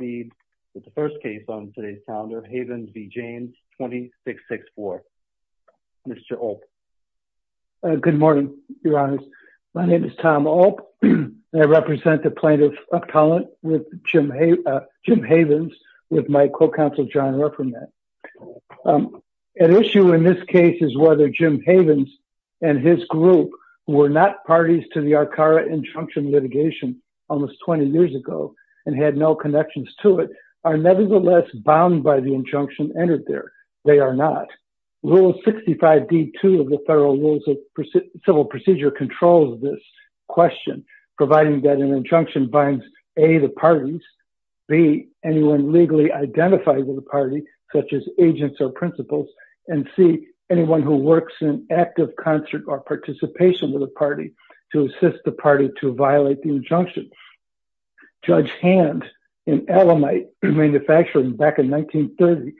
Havens v. James 2664. Mr. Olp. Good morning, Your Honors. My name is Tom Olp, and I represent the Plaintiff Appellant with Jim Havens, with my co-counsel John Rufferman. An issue in this case is whether Jim Havens and his group were not parties to the Arcara Injunction litigation almost 20 years ago and had no connections to it, are nevertheless bound by the injunction entered there. They are not. Rule 65d-2 of the Federal Rules of Civil Procedure controls this question, providing that an injunction binds, A, the parties, B, anyone legally identified with the party, such as agents or principals, and C, anyone who works in active concert or participation with the party, to assist the party to violate the injunction. Judge Hand, in Alamite Manufacturing back in 1930,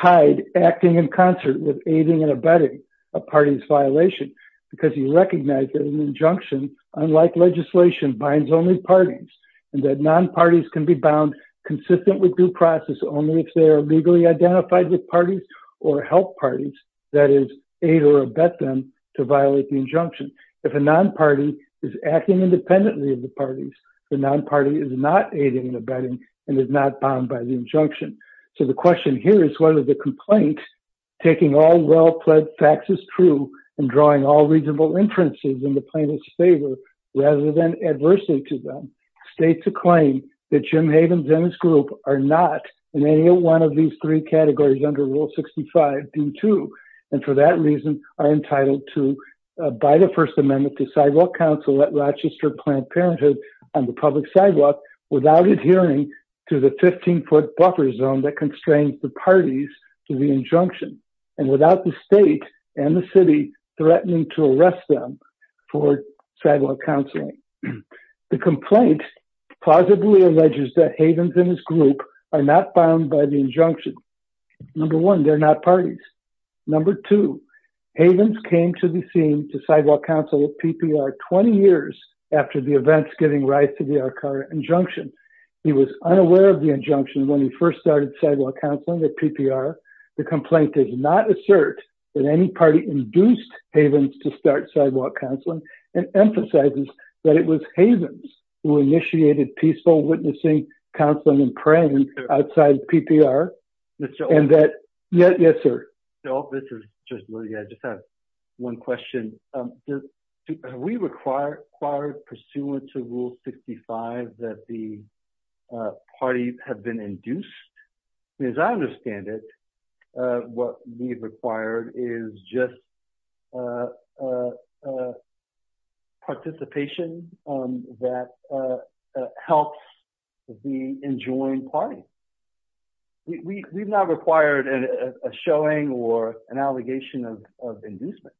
tied acting in concert with aiding and abetting a party's violation because he recognized that an injunction, unlike legislation, binds only parties, and that non-parties can be bound consistent with due process only if they are legally identified with parties or help parties, that is, aid or abet them to violate the injunction. If a non-party is acting independently of the parties, the non-party is not aiding and abetting and is not bound by the injunction. So the question here is whether the complaint, taking all well-pledged facts as true and drawing all reasonable inferences in the plaintiff's favor rather than adversity to them, states a claim that Jim Havens and his group are not in any one of these three categories under Rule 65, D2, and for that reason, are entitled to abide a First Amendment to sidewalk council at Rochester Planned Parenthood on the public sidewalk without adhering to the 15-foot buffer zone that constrains the parties to the injunction, and without the state and the city threatening to arrest them for sidewalk counseling. The injunction, number one, they're not parties. Number two, Havens came to the scene to sidewalk counsel at PPR 20 years after the events giving rise to the Arcara injunction. He was unaware of the injunction when he first started sidewalk counseling at PPR. The complaint does not assert that any party induced Havens to start sidewalk counseling and emphasizes that it was Havens who initiated peaceful witnessing, counseling, and prayer outside PPR. Mr. Olt? And that... Yes, sir. Mr. Olt, this is Judge Lillie. I just have one question. Have we required pursuant to Rule 65 that the parties have been induced? As I understand it, what we've required is just a participation that helps the enjoined party. We've not required a showing or an allegation of inducement.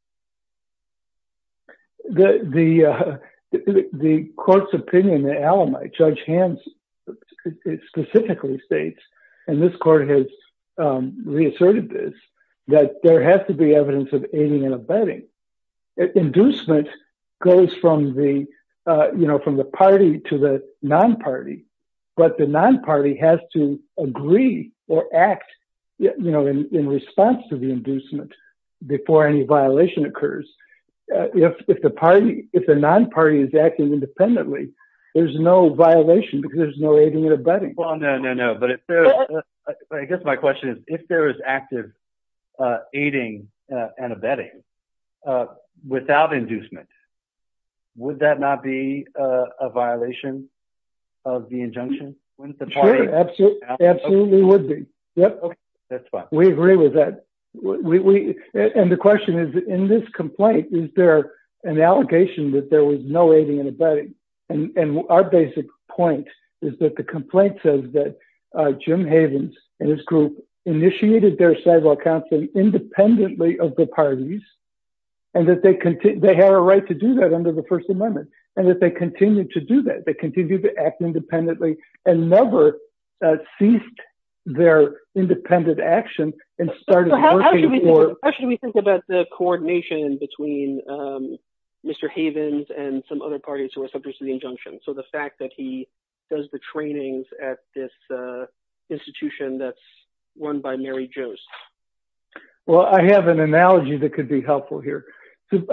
The court's opinion, the alibi, Judge Havens specifically states, and this court has asserted this, that there has to be evidence of aiding and abetting. Inducement goes from the party to the non-party, but the non-party has to agree or act in response to the inducement before any violation occurs. If the non-party is acting independently, there's no violation because there's no aiding and abetting. Well, no, no, no. But I guess my question is, if there is active aiding and abetting without inducement, would that not be a violation of the injunction? Sure. Absolutely would be. We agree with that. And the question is, in this complaint, is there an allegation that there was no aiding and abetting? And our basic point is that the complaint says that Jim Havens and his group initiated their civil counsel independently of the parties, and that they had a right to do that under the First Amendment, and that they continued to do that. They continued to act independently and never ceased their independent action and started working for- other parties who were subject to the injunction. So the fact that he does the trainings at this institution that's run by Mary Jo's. Well, I have an analogy that could be helpful here.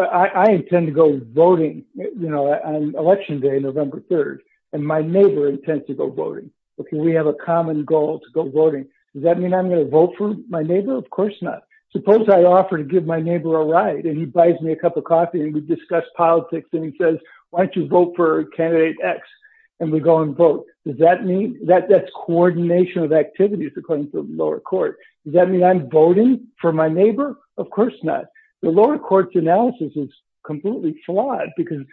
I intend to go voting on Election Day, November 3rd, and my neighbor intends to go voting. We have a common goal to go voting. Does that mean I'm going to vote for my neighbor? Of course not. Suppose I offer to give my neighbor a ride, and he buys me a cup of coffee, and we discuss politics, and he says, why don't you vote for candidate X? And we go and vote. Does that mean- that's coordination of activities according to the lower court. Does that mean I'm voting for my neighbor? Of course not. The lower court's analysis is completely flawed because-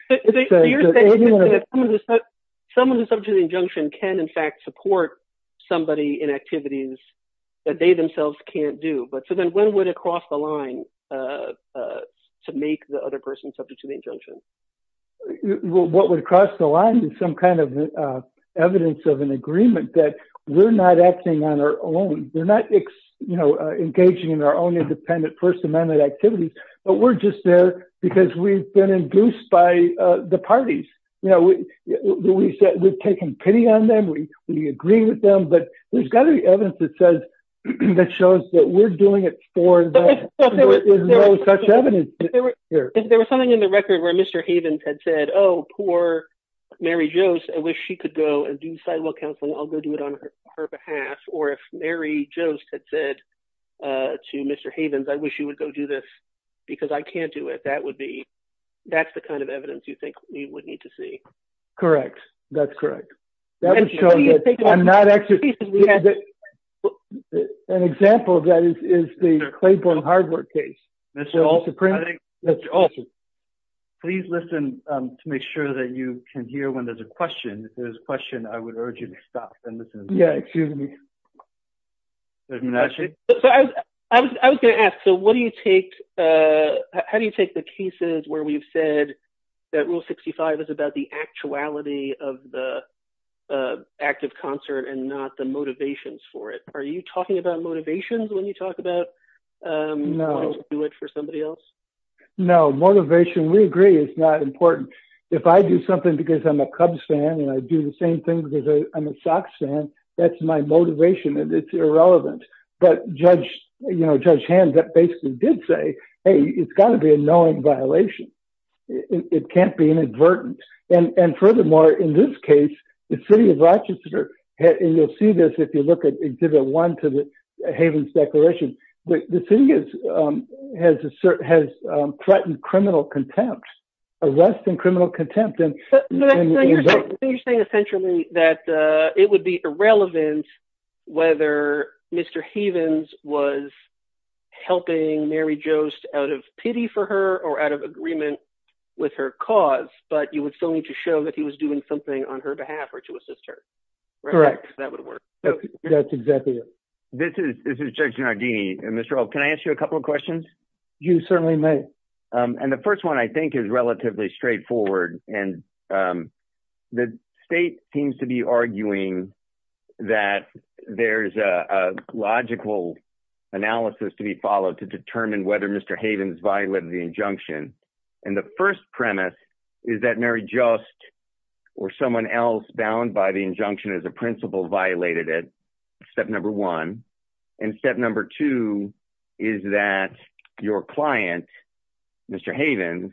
Someone who's subject to the injunction can, in fact, support somebody in activities that they cross the line to make the other person subject to the injunction. What would cross the line is some kind of evidence of an agreement that we're not acting on our own. We're not engaging in our own independent First Amendment activities, but we're just there because we've been induced by the parties. We've taken pity on them. We agree with them, but there's got to be evidence that shows that we're doing it for them. There's no such evidence. There was something in the record where Mr. Havens had said, oh, poor Mary Jost. I wish she could go and do sidewalk counseling. I'll go do it on her behalf. Or if Mary Jost had said to Mr. Havens, I wish you would go do this because I can't do it. That would be- that's the kind of evidence you think we would need to see. Correct. That's correct. An example of that is the Claiborne Hardwood case. Please listen to make sure that you can hear when there's a question. If there's a question, I would urge you to stop and listen. Yeah, excuse me. I was going to ask, so what do you take- how do you take the cases where we've said that Rule 65 is about the actuality of the active concert and not the motivations for it? Are you talking about motivations when you talk about- No. Wanting to do it for somebody else? No. Motivation, we agree, is not important. If I do something because I'm a Cubs fan and I do the same thing because I'm a Sox fan, that's my motivation and it's irrelevant. But Judge Hands basically did say, hey, it's got to be a knowing violation. It can't be inadvertent. And furthermore, in this case, the city of Rochester, and you'll see this if you look at Exhibit 1 to the Havens Declaration, the city has threatened criminal contempt, arrest and criminal contempt. You're saying essentially that it would be irrelevant whether Mr. Havens was helping Mary Joost out of pity for her or out of agreement with her cause, but you would still need to show that he was doing something on her behalf or to assist her. Correct. That would work. That's exactly it. This is Judge Giardini. Mr. Rowe, can I ask you a couple of questions? You certainly may. And the first one, I think, is relatively straightforward. And the state seems to be arguing that there's a logical analysis to be followed to determine whether Mr. Havens violated the injunction. And the first premise is that Mary Joost or someone else bound by the injunction as a principal violated it, step number one. And number two is that your client, Mr. Havens,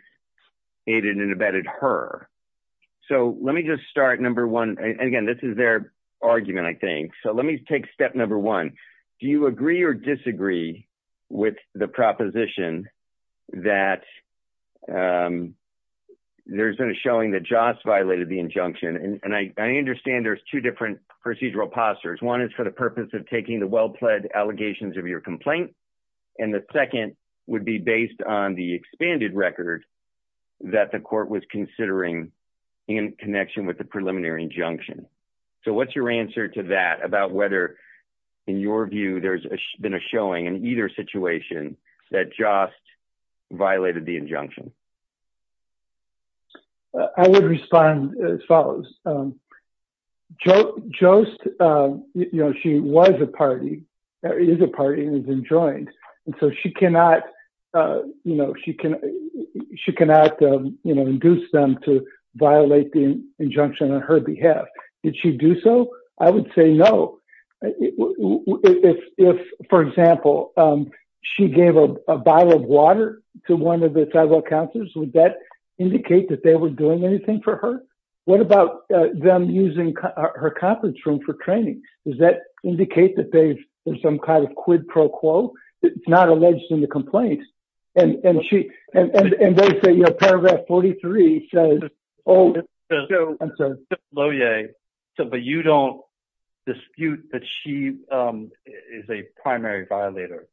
aided and abetted her. So let me just start, number one, and again, this is their argument, I think. So let me take step number one. Do you agree or disagree with the proposition that there's been a showing that Jost violated the injunction? And I understand there's two different procedural postures. One is for the complaint. And the second would be based on the expanded record that the court was considering in connection with the preliminary injunction. So what's your answer to that about whether, in your view, there's been a showing in either situation that Jost violated the injunction? I would respond as follows. Jost, you know, she was a party, or is a party, and has been joined. And so she cannot, you know, she cannot, you know, induce them to violate the injunction on her behalf. Did she do so? I would say no. If, for example, she gave a bottle of water to one of the tribal counselors, would that indicate that they were doing anything for her? What about them using her conference room for training? Does that indicate that there's some kind of quid pro quo that's not alleged in the complaint? And she, and they say, you know, paragraph 43 says, oh, I'm sorry. But you don't dispute that she is a primary violator?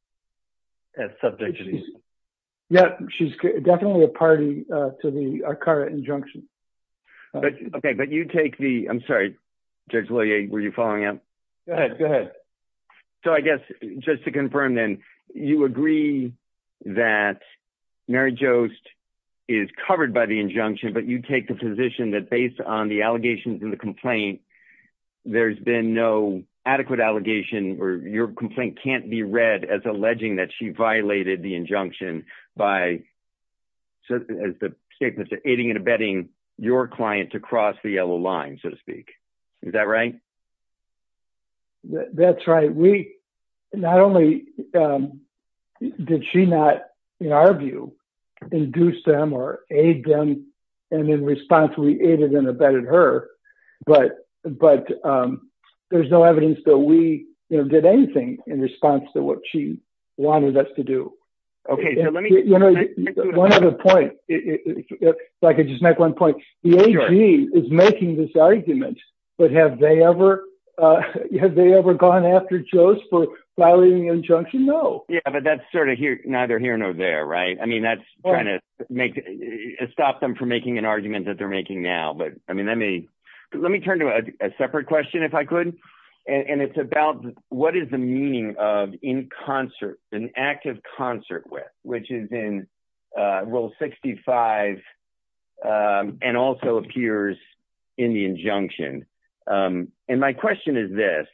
As subject to these? Yeah, she's definitely a party to the ACARA injunction. Okay. But you take the, I'm sorry, Judge Lillie, were you following up? Go ahead. Go ahead. So I guess, just to confirm then, you agree that Mary Jost is covered by the injunction, but you take the position that based on the allegations in the complaint, there's been no adequate allegation where your complaint can't be read as alleging that she violated the injunction by, as the statement said, aiding and abetting your client to cross the yellow line, so to speak. Is that right? That's right. We, not only did she not, in our view, induce them or aid them, and in response we aided and abetted her, but there's no evidence that we, you know, did anything in response to what she wanted us to do. Okay. One other point, if I could just make one point, the AG is making this argument, but have they ever, have they ever gone after Jost for violating the injunction? No. Yeah, but that's sort of neither here nor there, right? I mean, that's trying to make, stop them from making an argument that they're making now, but I mean, let me, let me turn to a separate question if I could, and it's about what is the meaning of in concert, an act of concert with, which is in rule 65 and also appears in the injunction, and my question is this,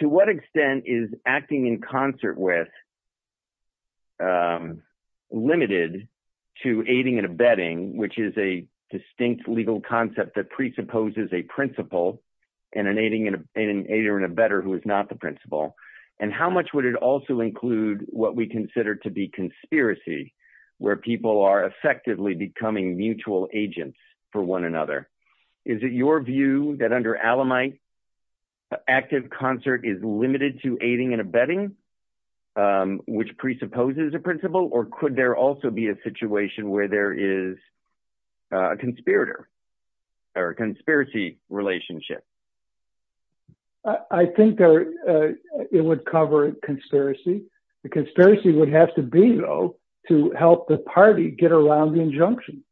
to what extent is acting in limited to aiding and abetting, which is a distinct legal concept that presupposes a principle and an aiding and abetter who is not the principle, and how much would it also include what we consider to be conspiracy, where people are effectively becoming mutual agents for one another? Is it your view that under Alamite, active concert is limited to aiding and abetting, which presupposes a principle, or could there also be a situation where there is a conspirator or a conspiracy relationship? I think there, it would cover a conspiracy. The conspiracy would have to be, though, to help the party get around the injunction.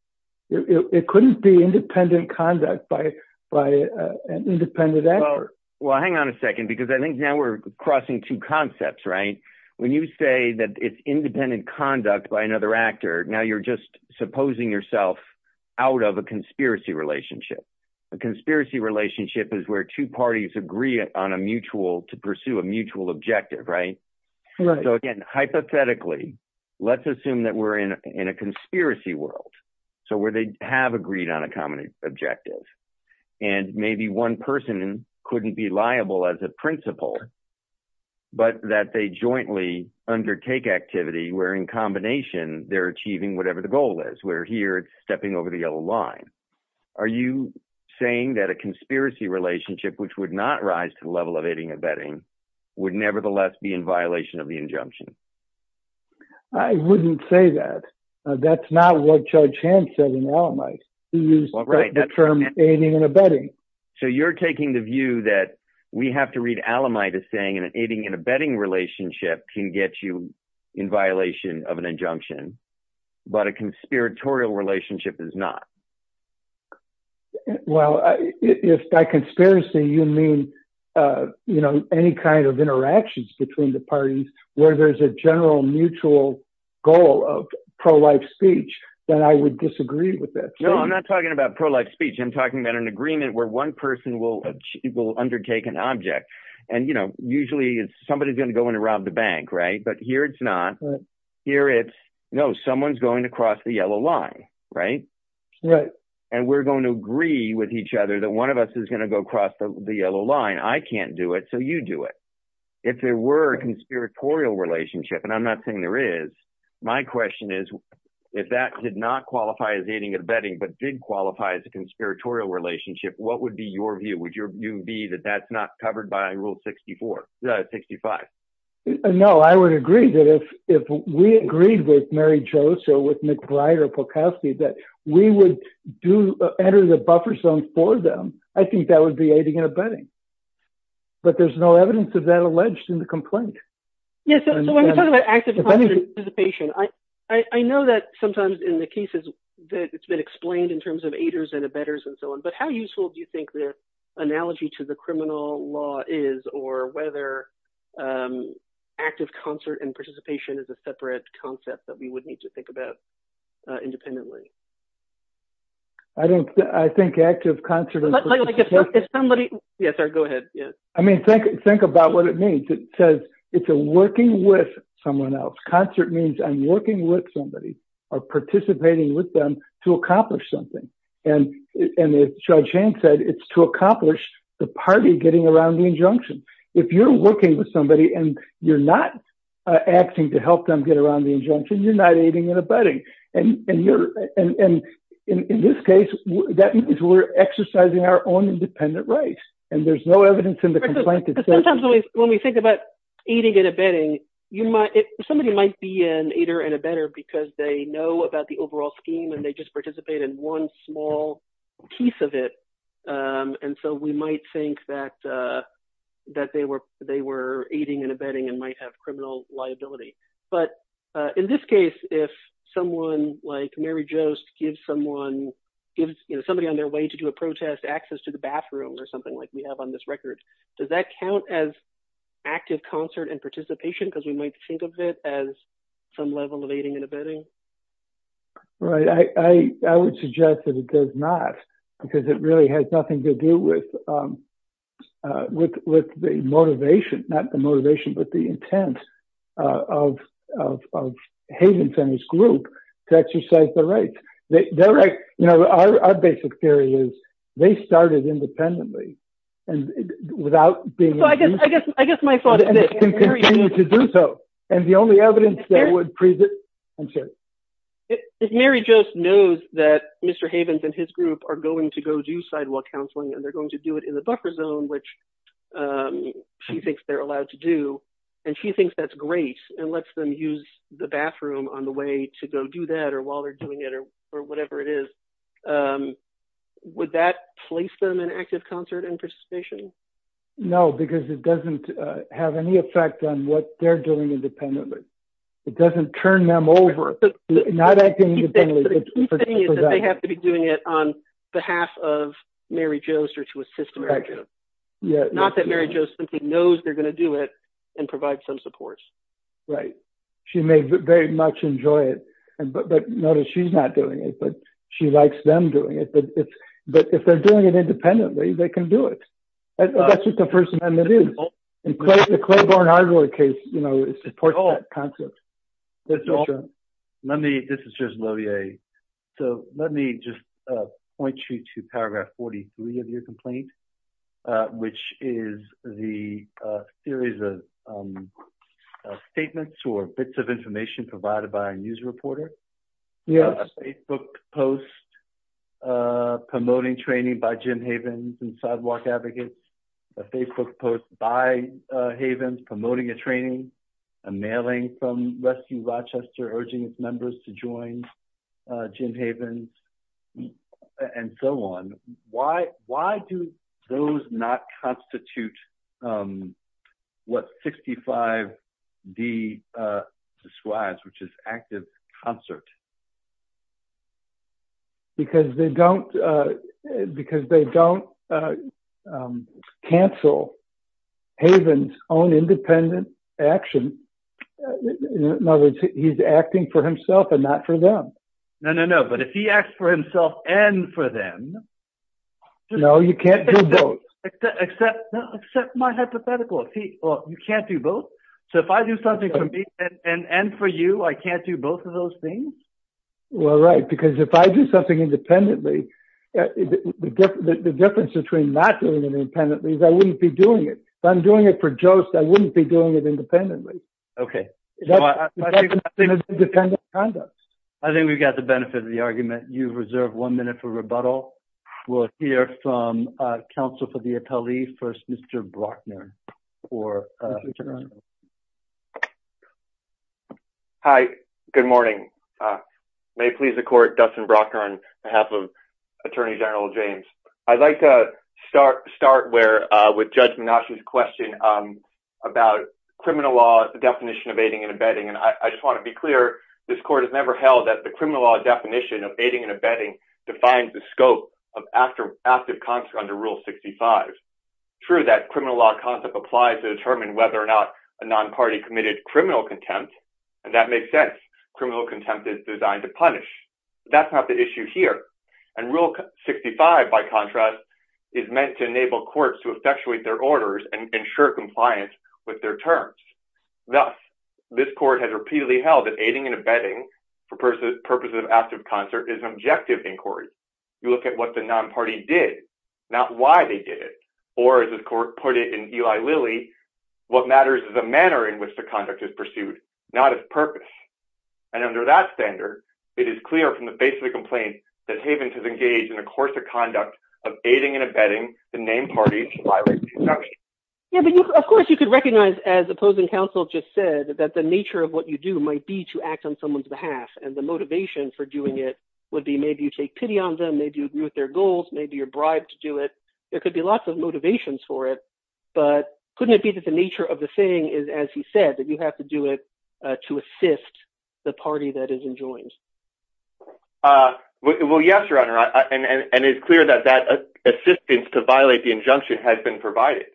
It couldn't be independent conduct by an independent actor. Well, hang on a second, because I think now we're crossing two concepts, right? When you say that it's independent conduct by another actor, now you're just supposing yourself out of a conspiracy relationship. A conspiracy relationship is where two parties agree on a mutual, to pursue a mutual objective, right? So, again, hypothetically, let's assume that we're in a conspiracy world, so where they have agreed on a common objective, and maybe one person couldn't be liable as a principal, but that they jointly undertake activity, where in combination they're achieving whatever the goal is, where here it's stepping over the yellow line. Are you saying that a conspiracy relationship, which would not rise to the level of aiding and abetting, would nevertheless be in violation of the injunction? I wouldn't say that. That's not what Judge Hand said in Alamite. He used the term aiding and abetting. So you're taking the view that we have to read Alamite as saying an aiding and abetting relationship can get you in violation of an injunction, but a conspiratorial relationship is not. Well, if by conspiracy you mean, you know, any kind of interactions between the parties where there's a general mutual goal of pro-life speech, then I would disagree with that. No, I'm not talking about pro-life speech. I'm talking about an agreement where one person will undertake an object. And, you know, usually somebody's going to go in and rob the bank, right? But here it's not. Here it's, no, someone's going to cross the yellow line, right? And we're going to agree with each other that one of us is going to go across the yellow line. I can't do it, so you do it. If there were a conspiratorial relationship, and I'm not saying there is, my question is, if that did not qualify as aiding and abetting, but did qualify as a that's not covered by rule 64, 65. No, I would agree that if we agreed with Mary Jo, so with McBride or Polkowski, that we would do enter the buffer zone for them, I think that would be aiding and abetting. But there's no evidence of that alleged in the complaint. Yes, so when we talk about active participation, I know that sometimes in the cases that it's been explained in terms of is, or whether active concert and participation is a separate concept that we would need to think about independently. I don't, I think active concert. Yes, sir, go ahead. Yes. I mean, think, think about what it means. It says it's a working with someone else. Concert means I'm working with somebody or participating with them to accomplish something. And, and as Judge Hanks said, it's to accomplish the party getting around the injunction. If you're working with somebody and you're not acting to help them get around the injunction, you're not aiding and abetting. And, and you're, and in this case, that means we're exercising our own independent rights. And there's no evidence in the complaint. Sometimes when we, when we think about aiding and abetting, you might, somebody might be an aider and abetter because they know about the overall scheme and they just participate in one small piece of it. And so we might think that, that they were, they were aiding and abetting and might have criminal liability. But in this case, if someone like Mary Jo's gives someone, gives, you know, somebody on their way to do a protest access to the bathroom or something like we have on this record, does that count as active concert and participation? Because we might think of it as some level of aiding and abetting. Right. I, I, I would suggest that it does not because it really has nothing to do with, with, with the motivation, not the motivation, but the intent of, of, of Haven's and his group to exercise the rights that direct, you know, our, our basic theory is they started independently and without being, I guess, I guess, I guess my thought is to do so. And the only evidence that I'm sure. If Mary Jo's knows that Mr. Havens and his group are going to go do sidewalk counseling and they're going to do it in the buffer zone, which she thinks they're allowed to do. And she thinks that's great and lets them use the bathroom on the way to go do that, or while they're doing it or, or whatever it is. Would that place them in active concert and participation? No, because it doesn't have any effect on what they're doing independently. It doesn't turn them over. They have to be doing it on behalf of Mary Jo's or to assist. Not that Mary Jo simply knows they're going to do it and provide some supports. Right. She may very much enjoy it, but notice she's not doing it, but she likes them doing it, but if they're doing it independently, they can do it. That's what the first amendment is. The Claiborne hardware case, you know, it supports that concept. Let me, this is just low VA. So let me just point you to paragraph 43 of your complaint, which is the series of statements or bits of information provided by a news reporter. A Facebook post promoting training by Jim Havens and sidewalk advocates, a Facebook post by Havens promoting a training, a mailing from Rescue Rochester, urging its members to join Jim Havens and so on. Why, why do those not constitute what 65D describes, which is active concert? Because they don't, because they don't cancel Haven's own independent action. In other words, he's acting for himself and not for them. No, no, no. But if he acts for himself and for them. No, you can't do both. Except my hypothetical. You can't do both. So if I do something for me and for you, I can't do both of those things. Well, right. Because if I do something independently, the difference between not doing it independently is I wouldn't be doing it. If I'm doing it for Jost, I wouldn't be doing it independently. Okay. I think we've got the benefit of the argument. You've reserved one minute for rebuttal. We'll hear from counsel for the appellee. First, Mr. Brockman. Hi, good morning. May it please the court, Dustin Brockman on behalf of Attorney General James. I'd like to start with Judge Menashe's question about criminal law, the definition of aiding and abetting. And I just want to be clear, this court has never held that the criminal law definition of aiding and abetting defines the scope of active concert under Rule 65. True, that criminal law concept applies to determine whether or not a non-party committed criminal contempt, and that makes sense. Criminal contempt is designed to punish. That's not the issue here. And Rule 65, by contrast, is meant to enable courts to effectuate their orders and ensure compliance with their terms. Thus, this court has repeatedly held that aiding and abetting for purposes of active concert is an objective inquiry. You look at what the non-party did, not why they did it. Or as the court put it in Eli Lilly, what matters is the manner in which the conduct is pursued, not its purpose. And under that standard, it is clear from the base of the complaint that Havens has engaged in a course of conduct of aiding and abetting the named party to violate the injunction. Yeah, but of course you could recognize, as opposing counsel just said, that the nature of what you do might be to act on someone's behalf. And the motivation for doing it would be maybe you take pity on them, maybe you agree with their goals, maybe you're bribed to do it. There could be lots of motivations for it, but couldn't it be that the nature of the thing is, as he said, that you have to do it to assist the party that is enjoined? Well, yes, Your Honor. And it's clear that that assistance to violate the injunction has been provided.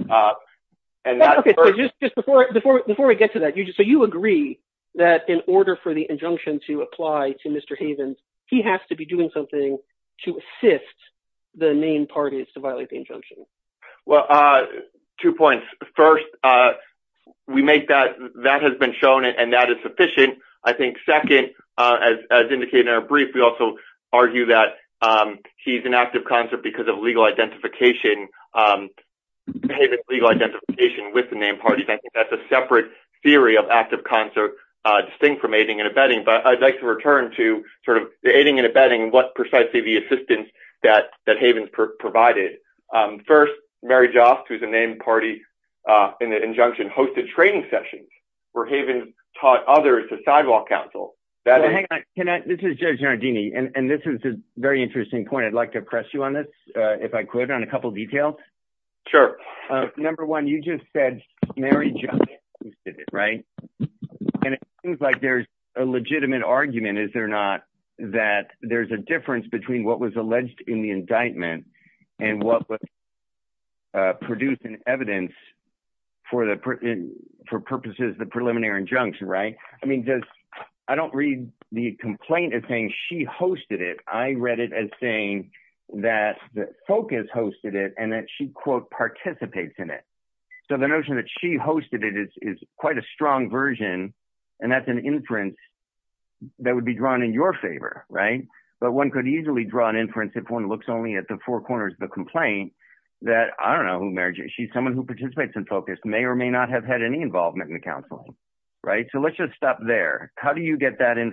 Okay, so just before we get to that, so you agree that in order for the injunction to apply to Mr. Havens, he has to be doing something to assist the named parties to violate the injunction? Well, two points. First, that has been shown and that is sufficient. I think second, as indicated in our brief, we also have a legal identification with the named parties. I think that's a separate theory of active concert distinct from aiding and abetting. But I'd like to return to sort of the aiding and abetting and what precisely the assistance that Havens provided. First, Mary Joss, who's a named party in the injunction, hosted training sessions where Havens taught others to sidewalk counsel. Well, hang on. This is Judge Giardini, and this is a very interesting point. I'd like to press you on this, if I could, on a couple details. Sure. Number one, you just said Mary Joss hosted it, right? And it seems like there's a legitimate argument, is there not, that there's a difference between what was alleged in the indictment and what was produced in evidence for purposes of the preliminary injunction, right? I mean, the focus hosted it and that she, quote, participates in it. So the notion that she hosted it is quite a strong version, and that's an inference that would be drawn in your favor, right? But one could easily draw an inference if one looks only at the four corners of the complaint that, I don't know who Mary Joss, she's someone who participates in focus, may or may not have had any involvement in the counseling, right? So let's just stop there. How do you get that at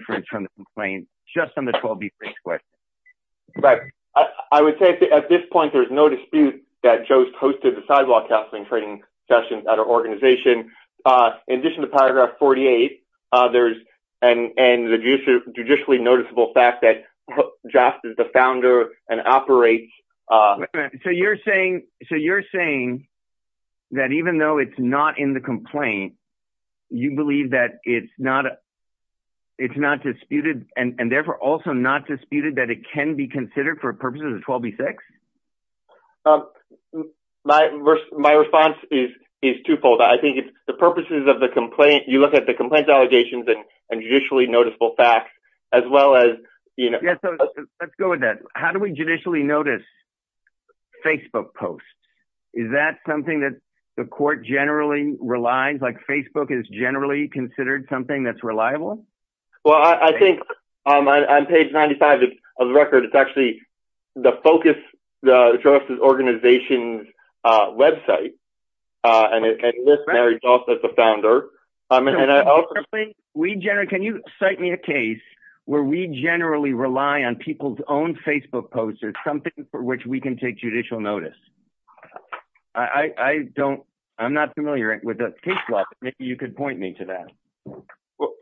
this point, there's no dispute that Joss hosted the sidewalk counseling training sessions at our organization. In addition to paragraph 48, there's, and the judicially noticeable fact that Joss is the founder and operates- So you're saying that even though it's not in the complaint, you believe that it's not disputed and therefore also not disputed that it can be considered for purposes of 12B6? My response is twofold. I think it's the purposes of the complaint, you look at the complaint allegations and judicially noticeable facts, as well as- Yeah, so let's go with that. How do we judicially notice Facebook posts? Is that something that the court generally relies, like Facebook is generally considered something that's reliable? Well, I think on page 95 of the record, it's actually the focus of the organization's website, and it lists Mary Joss as the founder. Can you cite me a case where we generally rely on people's own Facebook posts as something for which we can take judicial notice? I'm not familiar with the case law, but maybe you could point me to that.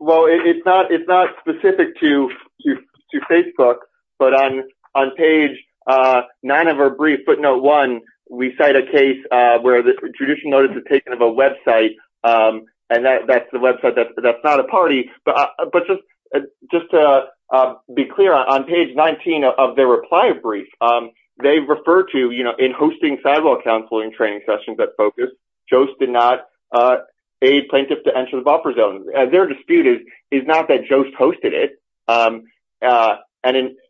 Well, it's not specific to Facebook, but on page nine of our brief, footnote one, we cite a case where the judicial notice is taken of a website, and that's the website that's not a party. But just to be clear, on page 19 of their reply brief, they refer to, in hosting sidewalk counseling training sessions at Focus, Joss did not aid plaintiffs to enter the buffer zone. Their dispute is not that Joss hosted it, and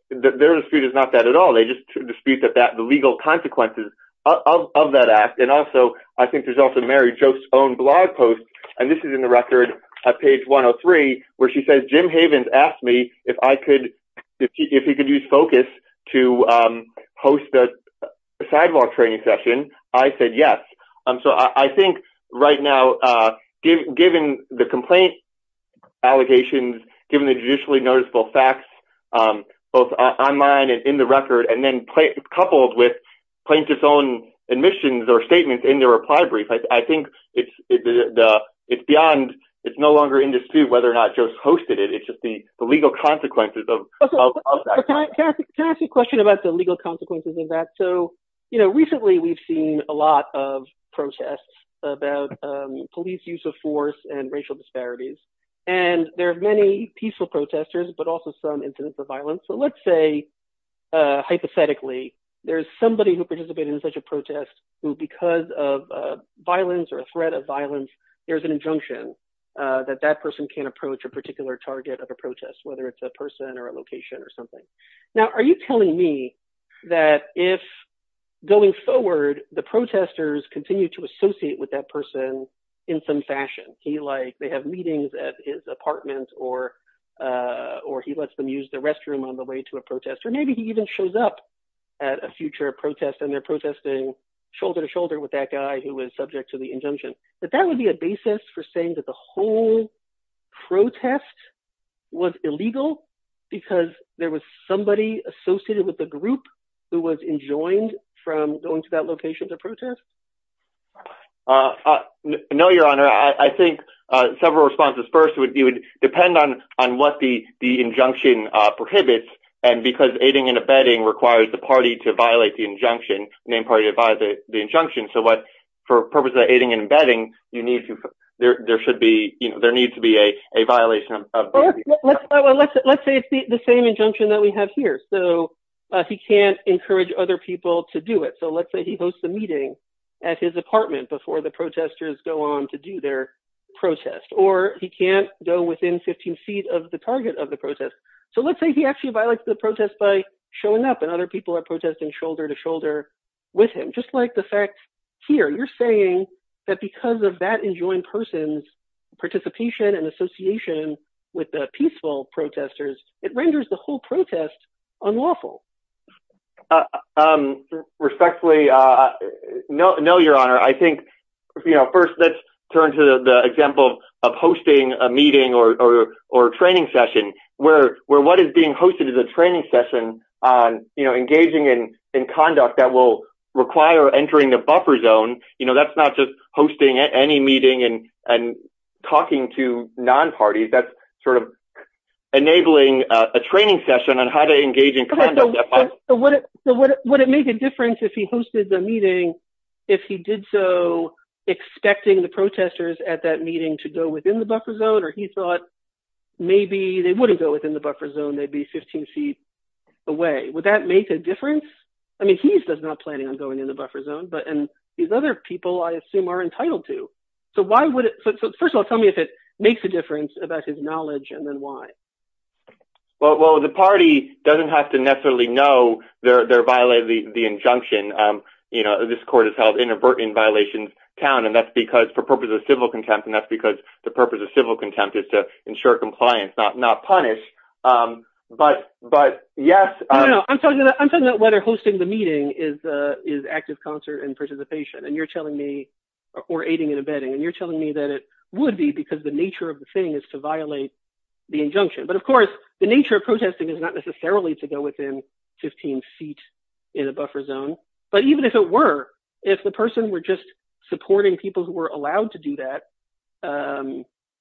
their dispute is not that at all, they just dispute the legal consequences of that act. And also, I think there's also Mary Joss' own blog post, and this is in the record at page 103, where she says, Jim Havens asked me if he could use Focus to host a sidewalk training session. I said yes. So I think right now, given the complaint allegations, given the judicially noticeable facts, both online and in the record, and then coupled with plaintiffs' own admissions or statements in their reply brief, I think it's beyond, it's no longer in dispute whether or not Joss hosted it, it's just the legal consequences of that. Can I ask you a question about the legal consequences of that? So recently, we've seen a lot of protests about police use of force and racial disparities. And there are many peaceful protesters, but also some incidents of violence. So let's say, hypothetically, there's somebody who participated in such a protest, who because of violence or a threat of violence, there's an injunction that that person can't approach a particular target of a protest, whether it's a person or a location or something. Now, are you telling me that if, going forward, the protesters continue to associate with that person in some fashion, he like, they have meetings at his apartment, or, or he lets them use the restroom on the way to a protest, or maybe he even shows up at a future protest, and they're protesting shoulder to shoulder with that guy who was subject to the injunction, that that would be a basis for saying that the whole protest was illegal, because there was somebody associated with the group who was enjoined from going to that location to protest? No, Your Honor, I think several responses. First would be would depend on on what the the injunction prohibits. And because aiding and abetting requires the party to violate the injunction, named party to violate the injunction. So what, for purposes of aiding and abetting, you need to, there should be, you know, there needs to be a violation. Let's say it's the same injunction that we have here. So he can't encourage other people to do it. So let's say he hosts a meeting at his apartment before the protesters go on to do their protest, or he can't go within 15 feet of the target of the protest. So let's say he actually violates the protest by showing up and other people are protesting shoulder to shoulder with him, just like the fact here, you're saying that because of that enjoined person's participation and association with the peaceful protesters, it renders the whole protest unlawful. Respectfully, no, no, Your Honor, I think, you know, first, let's turn to the example of hosting a meeting or, or training session, where we're what is being hosted as a training session on, engaging in conduct that will require entering the buffer zone, you know, that's not just hosting any meeting and, and talking to non-parties, that's sort of enabling a training session on how to engage in conduct. So would it make a difference if he hosted the meeting, if he did so, expecting the protesters at that meeting to go within the buffer zone, or he I mean, he's just not planning on going in the buffer zone, but and these other people, I assume, are entitled to. So why would it? So first of all, tell me if it makes a difference about his knowledge, and then why? Well, the party doesn't have to necessarily know they're violating the injunction. You know, this court has held inadvertent violations count. And that's because for purposes of civil contempt. And that's because the purpose of civil contempt is to know whether hosting the meeting is, is active concert and participation. And you're telling me, or aiding and abetting, and you're telling me that it would be because the nature of the thing is to violate the injunction. But of course, the nature of protesting is not necessarily to go within 15 feet in a buffer zone. But even if it were, if the person were just supporting people who were allowed to do that,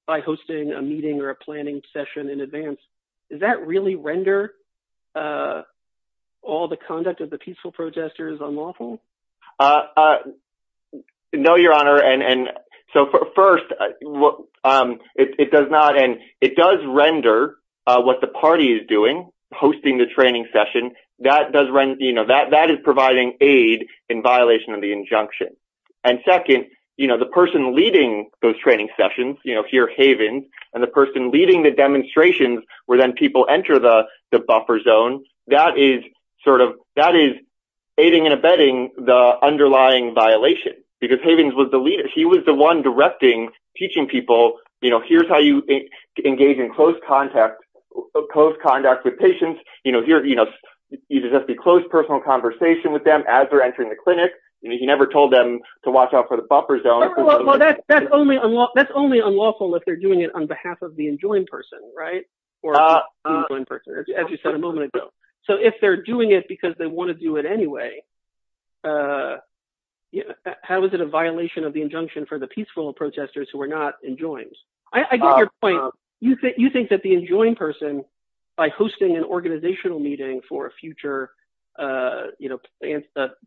by hosting a meeting or a planning session in advance, does that really render all the conduct of the peaceful protesters unlawful? No, Your Honor. And so first, it does not. And it does render what the party is doing, hosting the training session, that does run, you know, that that is providing aid in violation of the injunction. And second, you know, the person leading those training sessions, you know, here, Havens, and the person leading the demonstrations, where then people enter the buffer zone, that is sort of that is aiding and abetting the underlying violation. Because Havens was the leader, he was the one directing, teaching people, you know, here's how you engage in close contact, close contact with patients, you know, here, you know, either just be close personal conversation with them as they're entering the clinic, and he never told them to watch out for the buffer zone. Well, that's only unlawful, that's only unlawful, if they're doing it on behalf of the enjoined person, right? As you said a moment ago. So if they're doing it, because they want to do it anyway. How is it a violation of the injunction for the peaceful protesters who are not enjoined? I get your point. You think that the enjoined person, by hosting an organizational meeting for future, you know,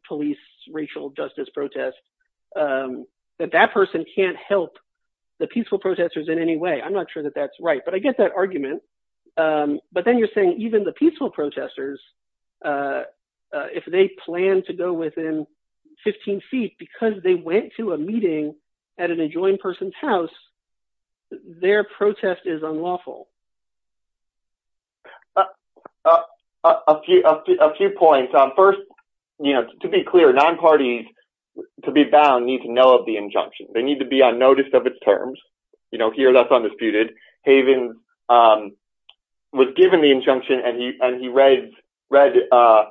police racial justice protest, that that person can't help the peaceful protesters in any way. I'm not sure that that's right. But I get that argument. But then you're saying even the peaceful protesters, if they plan to go within 15 feet, because they went to a meeting at an enjoined person's house, their protest is unlawful. A few points on first, you know, to be clear, non parties, to be bound need to know of the injunction, they need to be on notice of its terms, you know, here, that's undisputed. Haven was given the injunction, and he read it. So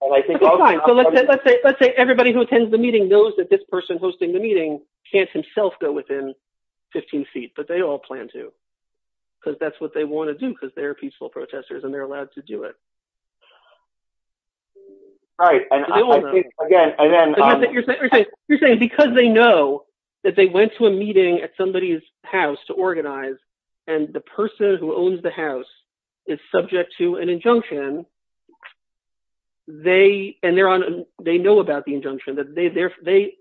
let's say everybody who attends the meeting knows that this person hosting the meeting can't himself go within 15 feet, but they all plan to, because that's what they want to do, because they're peaceful protesters, and they're allowed to do it. Right. And again, you're saying because they know that they went to a meeting at somebody's house to organize, and the person who owns the house is subject to an injunction. They and they're on, they know about the injunction that they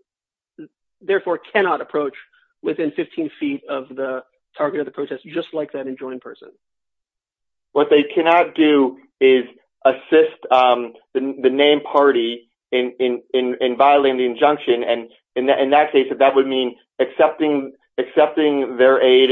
therefore cannot approach within 15 feet of the target of the protest, just like that enjoined person. What they cannot do is assist the name party in violating the injunction. And in that case, that would mean accepting their aid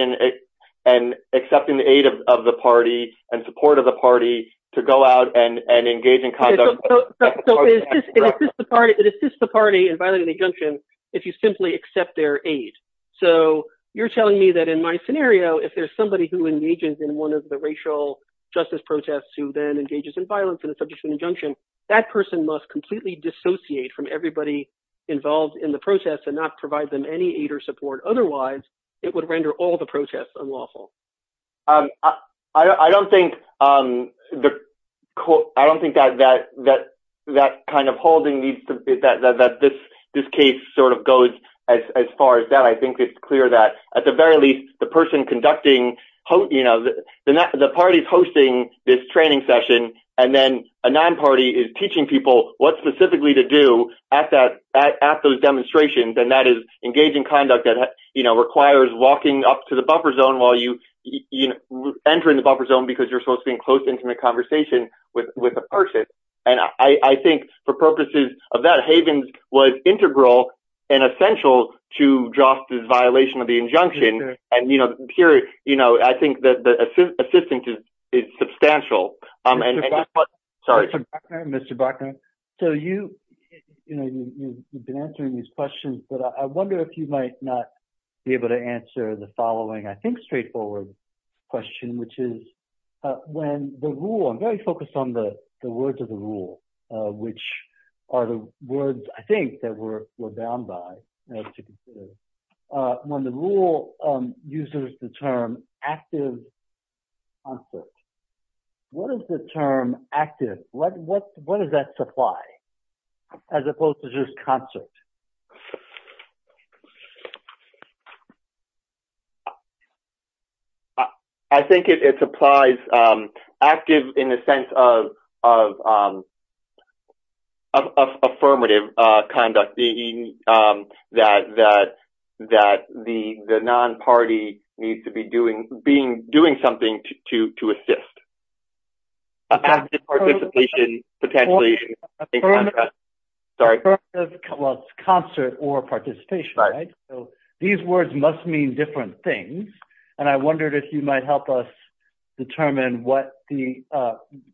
and accepting the aid of the party and support of the party to go out and engage in conduct. It assists the party in violating the injunction, if you simply accept their aid. So you're telling me that in my scenario, if there's somebody who engages in one of the racial justice protests, who then engages in violence and is subject to an injunction, that person must completely dissociate from everybody involved in the protest and not provide them any aid or support. Otherwise, it would render all the protests unlawful. I don't think that kind of holding that this case sort of goes as far as that. I think it's clear that at the very least, the person conducting, you know, the party's hosting this training session, and then a non-party is teaching people what specifically to do at those demonstrations. And that is engaging conduct that, you know, requires walking up to the buffer zone while you enter in the buffer zone because you're supposed to be in close, intimate conversation with a person. And I think for purposes of that, Havens was integral and essential to justice violation of the injunction. And, you know, here, you know, I think that the assistance is substantial. Sorry. Mr. Bachner, so you, you know, you've been answering these questions, but I wonder if you might not be able to answer the following, I think, straightforward question, which is when the rule, I'm very focused on the words of the rule, which are the words I think that we're bound by in order to consider, when the rule uses the term active concept, what is the term active? What, what, what does that supply as opposed to just concept? I think it's applies active in the sense of, of, of affirmative conduct that, that, that the, the non-party needs to be doing, being, doing something to, to, to assist. Affirmative, well it's concert or participation, right? So these words must mean different things. And I wondered if you might help us determine what the,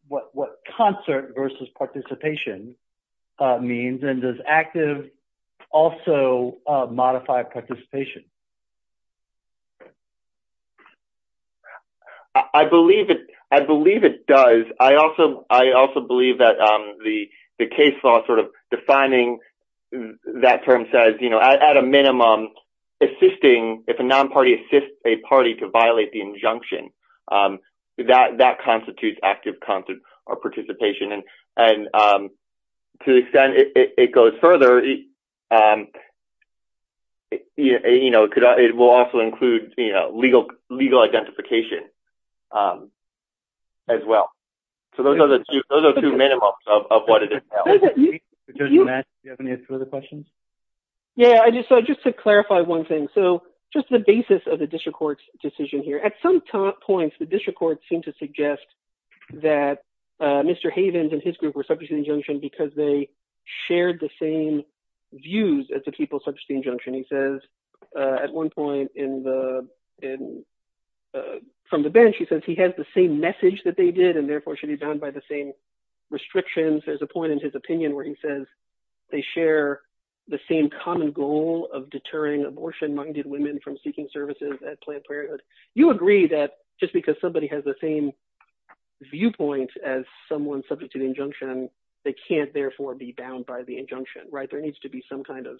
what, what concert versus participation means and does active also modify participation? I, I believe it, I believe it does. I also, I also believe that the, the case law sort of defining that term says, you know, at a minimum assisting, if a non-party assists a party to violate the injunction that, that constitutes active concert or participation. And, and to the extent it, it goes further, you know, it could, it will also include, you know, legal, legal identification as well. So those are the two, those are two minimums of, of what it entails. Judge, do you have any further questions? Yeah, I just, so just to clarify one thing. So just the basis of the district court's decision here, at some points, the district court seemed to suggest that Mr. Havens and his group were subject to the injunction because they shared the same views as the people subject to the injunction. He says at one point in the, in, from the bench, he says he has the same message that they did and therefore should be bound by the same restrictions. There's a point in his opinion where he says they share the same common goal of deterring abortion-minded women from seeking services at Planned Parenthood. You agree that just because somebody has the same viewpoint as someone subject to the injunction, they can't therefore be bound by the injunction, right? There needs to be some kind of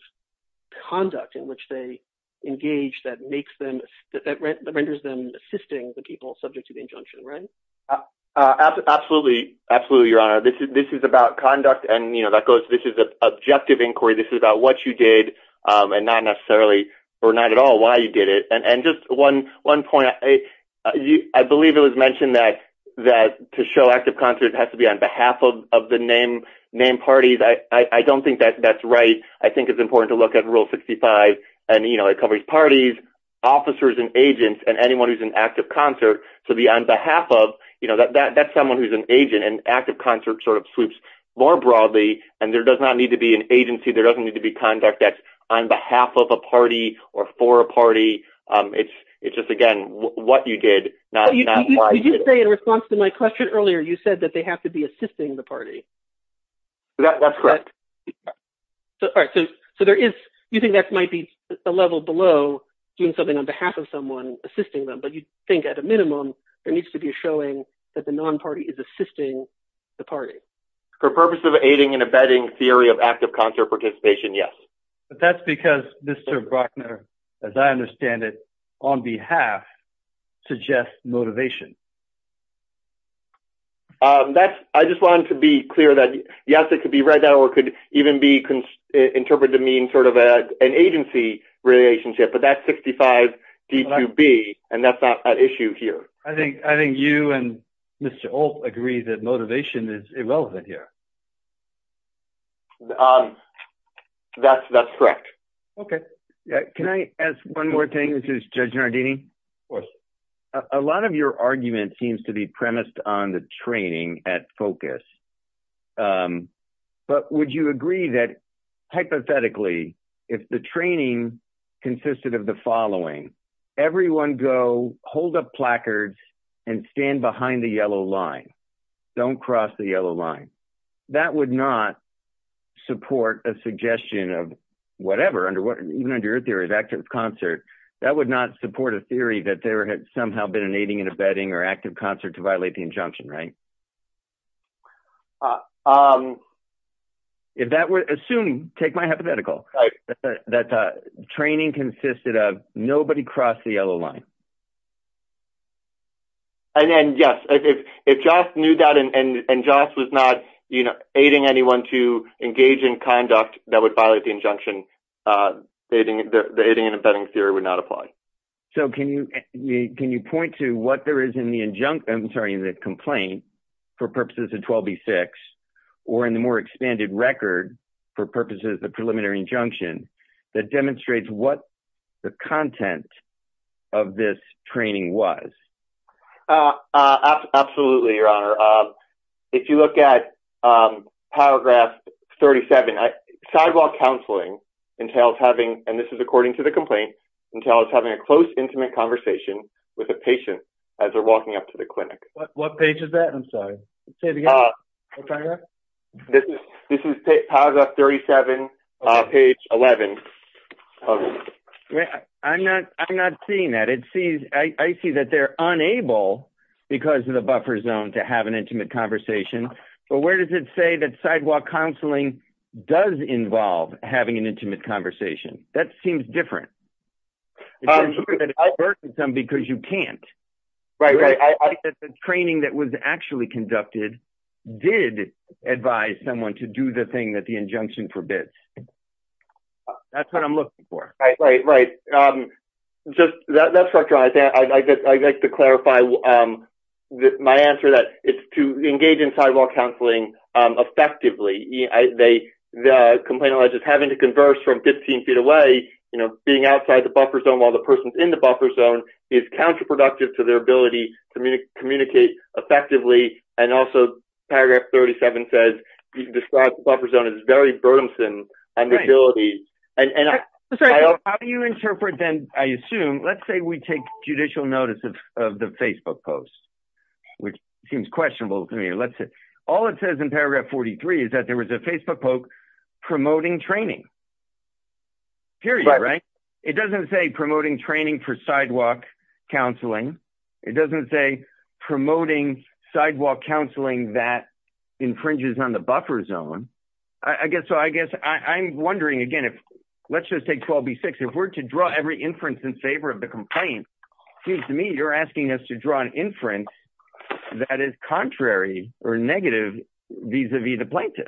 conduct in which they engage that makes them, that renders them assisting the people subject to the injunction, right? Absolutely, absolutely, Your Honor. This is, this is about conduct and, you know, that goes, this is an objective inquiry. This is about what you did and not necessarily, or not at all why you did it. And just one, one point, I believe it was mentioned that, that to show active concert, it has to be on behalf of, of the name, name parties. I don't think that that's right. I think it's important to look at Rule 65 and, you know, it covers parties, officers, and agents, and anyone who's in active concert to be on behalf of, you know, that's someone who's an agent and active concert sort of sweeps more broadly and there does not need to be an agency. There doesn't need to be conduct that's on behalf of a party or for a party. It's, it's just, again, what you did, not why you did it. You did say in response to my question earlier, you said that they have to be assisting the party. That, that's correct. All right. So, so there is, you think that might be a level below doing something on behalf of someone assisting them, but you think at a minimum there needs to be a showing that the non-party is assisting the party. For purpose of aiding and abetting theory of active concert participation, yes. But that's because Mr. Brockner, as I understand it, on behalf, suggests motivation. That's, I just wanted to be clear that, yes, it could be right now or could even be interpreted to mean sort of an agency relationship, but that's 65 DQB and that's not an issue here. I think, I think you and Mr. Holt agree that motivation is irrelevant here. That's, that's correct. Okay. Can I ask one more thing? This is Judge Nardini. Of course. A lot of your argument seems to be premised on the training at focus, but would you agree that hypothetically if the training consisted of the following, everyone go hold up placards and stand behind the yellow line, don't cross the yellow line, that would not support a suggestion of whatever, under what, even under your theory of active concert, that would not support a theory that there had somehow been an aiding and abetting or active concert to violate the injunction, right? If that were, assume, take my hypothetical, that the training consisted of nobody cross the yellow line. If Joss knew that and Joss was not, you know, aiding anyone to engage in conduct that would violate the injunction, the aiding and abetting theory would not apply. So can you, can you point to what there is in the injunct, I'm sorry, in the complaint for purposes of 12B6 or in the more expanded record for purposes of the preliminary injunction that demonstrates what the content of this training was? Absolutely, your honor. If you look at paragraph 37, sidewalk counseling entails having, and this is according to the complaint, entails having a close intimate conversation with a patient as they're walking up to the clinic. What page is that? I'm sorry, say it again. Paragraph? This is paragraph 37, page 11. I'm not, I'm not seeing that. It sees, I see that they're unable because of the buffer zone to have an intimate conversation, but where does it say that sidewalk counseling does involve having an intimate conversation? That seems different. Because you can't. Right, right. The training that was actually conducted did advise someone to do the thing that the injunction forbids. That's what I'm looking for. Right, right, right. Just, that's what I think. I'd like to clarify my answer that it's to engage in sidewalk counseling effectively. The complaint alleges having to converse from 15 feet away, you know, being outside the buffer zone while the person's buffer zone is counterproductive to their ability to communicate effectively. And also paragraph 37 says you can describe the buffer zone as very burdensome. How do you interpret then, I assume, let's say we take judicial notice of the Facebook post, which seems questionable to me. All it says in paragraph 43 is that there was a Facebook post promoting training. Period, right? It doesn't say promoting training for sidewalk counseling. It doesn't say promoting sidewalk counseling that infringes on the buffer zone. I guess, so I guess I'm wondering again if, let's just take 12b6, if we're to draw every inference in favor of the complaint, seems to me you're asking us to draw an inference that is contrary or negative vis-a-vis the plaintiff.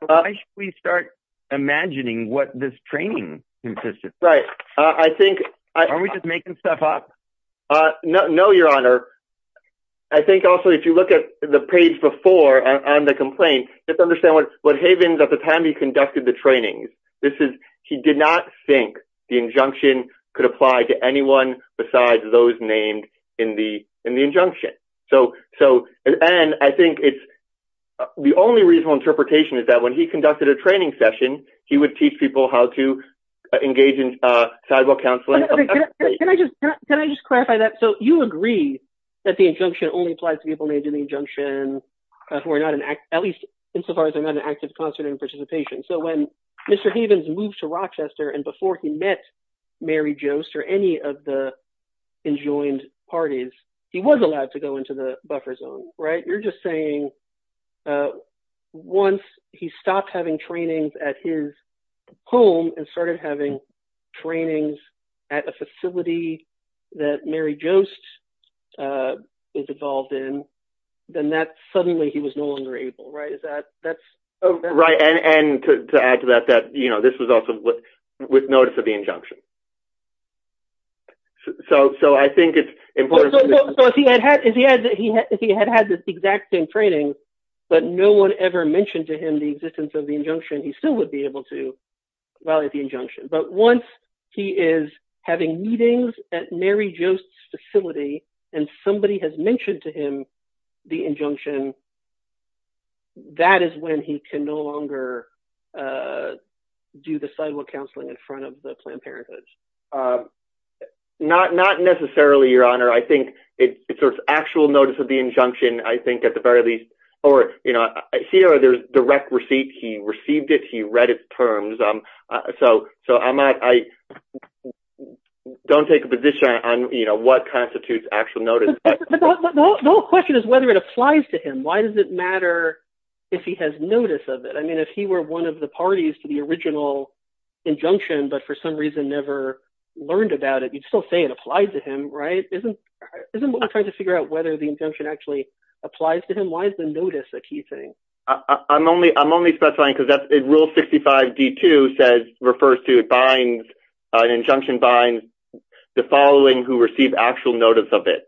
Why should we start imagining what this training consists of? Right. I think... Aren't we just making stuff up? No, your honor. I think also if you look at the page before on the complaint, just understand what Havens at the time he conducted the trainings, this is, he did not think the injunction could apply to anyone besides those named in the injunction. And I think it's, the only reasonable interpretation is that when he conducted a training session, he would teach people how to engage in sidewalk counseling. Can I just clarify that? So you agree that the injunction only applies to people made in the injunction who are not an, at least insofar as they're not an active constituent participation. So when Mr. Havens moved to Rochester and before he met Mary Joost or any of the enjoined parties, he was allowed to go into the buffer zone, right? You're just saying once he stopped having trainings at his home and started having trainings at a facility that Mary Joost is involved in, then that suddenly he was no longer able, right? Is that, that's... And to add to that, that this was also with notice of the injunction. So I think it's important... So if he had had this exact same training, but no one ever mentioned to him the existence of the injunction, he still would be able to violate the injunction. But once he is having meetings at Mary Joost's facility and somebody has mentioned to him the injunction, that is when he can no longer do the sidewalk counseling in front of the Planned Parenthood. Not necessarily, Your Honor. I think it's sort of actual notice of the injunction, I think at the very least, or, you know, here there's direct receipt. He received it. He read its terms. So I don't take a position on, you know, what constitutes actual notice. But the whole question is whether it applies to him. Why does it matter if he has notice of it? I mean, if he were one of the parties to the original injunction, but for some reason never learned about it, you'd still say it applies to him, right? Isn't what we're trying to figure out whether the injunction actually applies to him? Why is the notice a key thing? I'm only specifying because Rule 65D2 says, refers to, binds, an injunction binds the following who receive actual notice of it.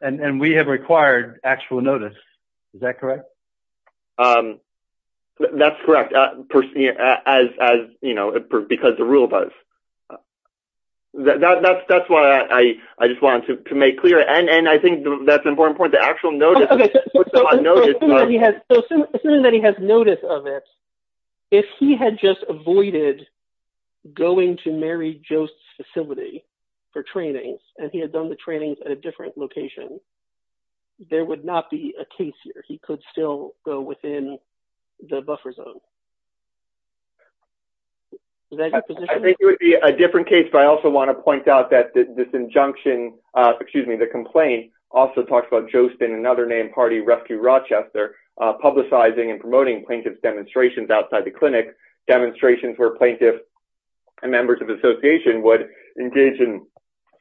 And we have required actual notice. Is that correct? That's correct. As, you know, because the rule does. That's why I just wanted to make clear. And I think that's an important point, the actual notice. So assuming that he has notice of it, if he had just avoided going to Mary Jost's facility for training, and he had done the trainings at a different location, there would not be a case here. He could still go within the buffer zone. I think it would be a different case, but I also want to point out that this injunction, excuse me, the complaint also talks about Jost in another named party, Rescue Rochester, publicizing and promoting plaintiff's demonstrations outside the clinic, demonstrations where plaintiffs and members of the association would engage in,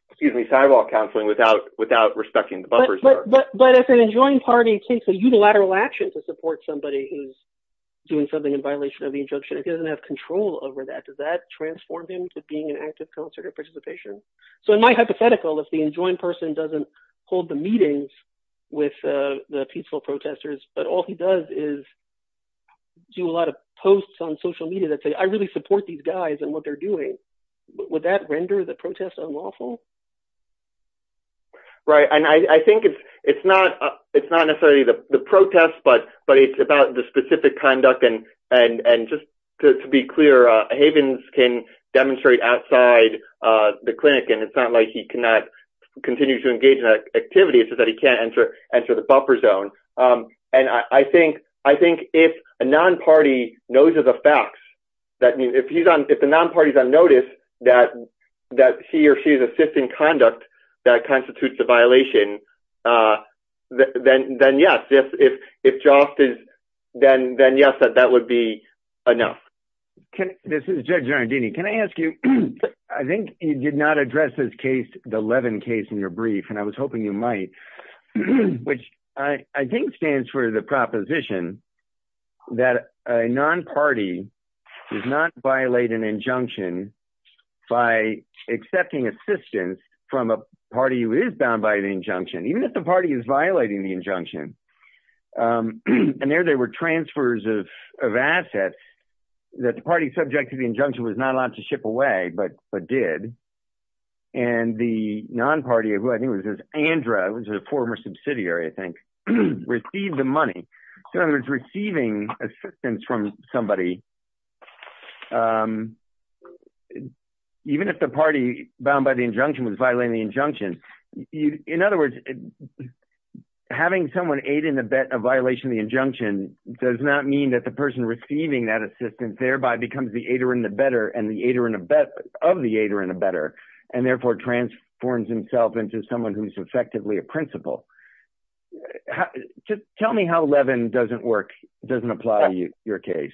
excuse me, sidewalk counseling without respecting the buffers there. But if an enjoined party takes a unilateral action to support somebody who's doing something in violation of the injunction, if he doesn't have control over that, does that transform him to being an active conservative participation? So in my hypothetical, if the enjoined person doesn't hold the meetings with the peaceful protesters, but all he does is do a lot of posts on social media that say, I really support these guys and what they're doing, would that render the protest unlawful? Right. And I think it's not necessarily the protest, but it's about the specific conduct. And just to be clear, Havens can demonstrate outside the clinic, and it's not like he cannot continue to engage in that activity. It's just that he can't enter the buffer zone. And I think if a non-party knows of the facts, that means if he's on, if the non-party's on notice that he or she is assisting conduct that constitutes a violation, then yes. If Jost is, then yes, that would be enough. This is Judge Giardini. Can I ask you, I think you did not address this case, the Levin case in your brief, and I was hoping you might, which I think stands for the proposition that a non-party does not violate an injunction by accepting assistance from a party who is bound by the injunction, even if the party is violating the injunction. And there, there were transfers of assets that the party subject to the injunction was not allowed to ship away, but did. And the non-party, who I think was this Andra, who was a former subsidiary, I think, received the money. So in other words, receiving assistance from somebody, even if the party bound by the injunction was violating the injunction. In other words, having someone aid in the violation of the injunction does not mean that the person receiving that assistance, thereby becomes the aider in the better and the aider of the aider in the better, and therefore transforms himself into someone who's effectively a principal. Just tell me how Levin doesn't work, doesn't apply to your case.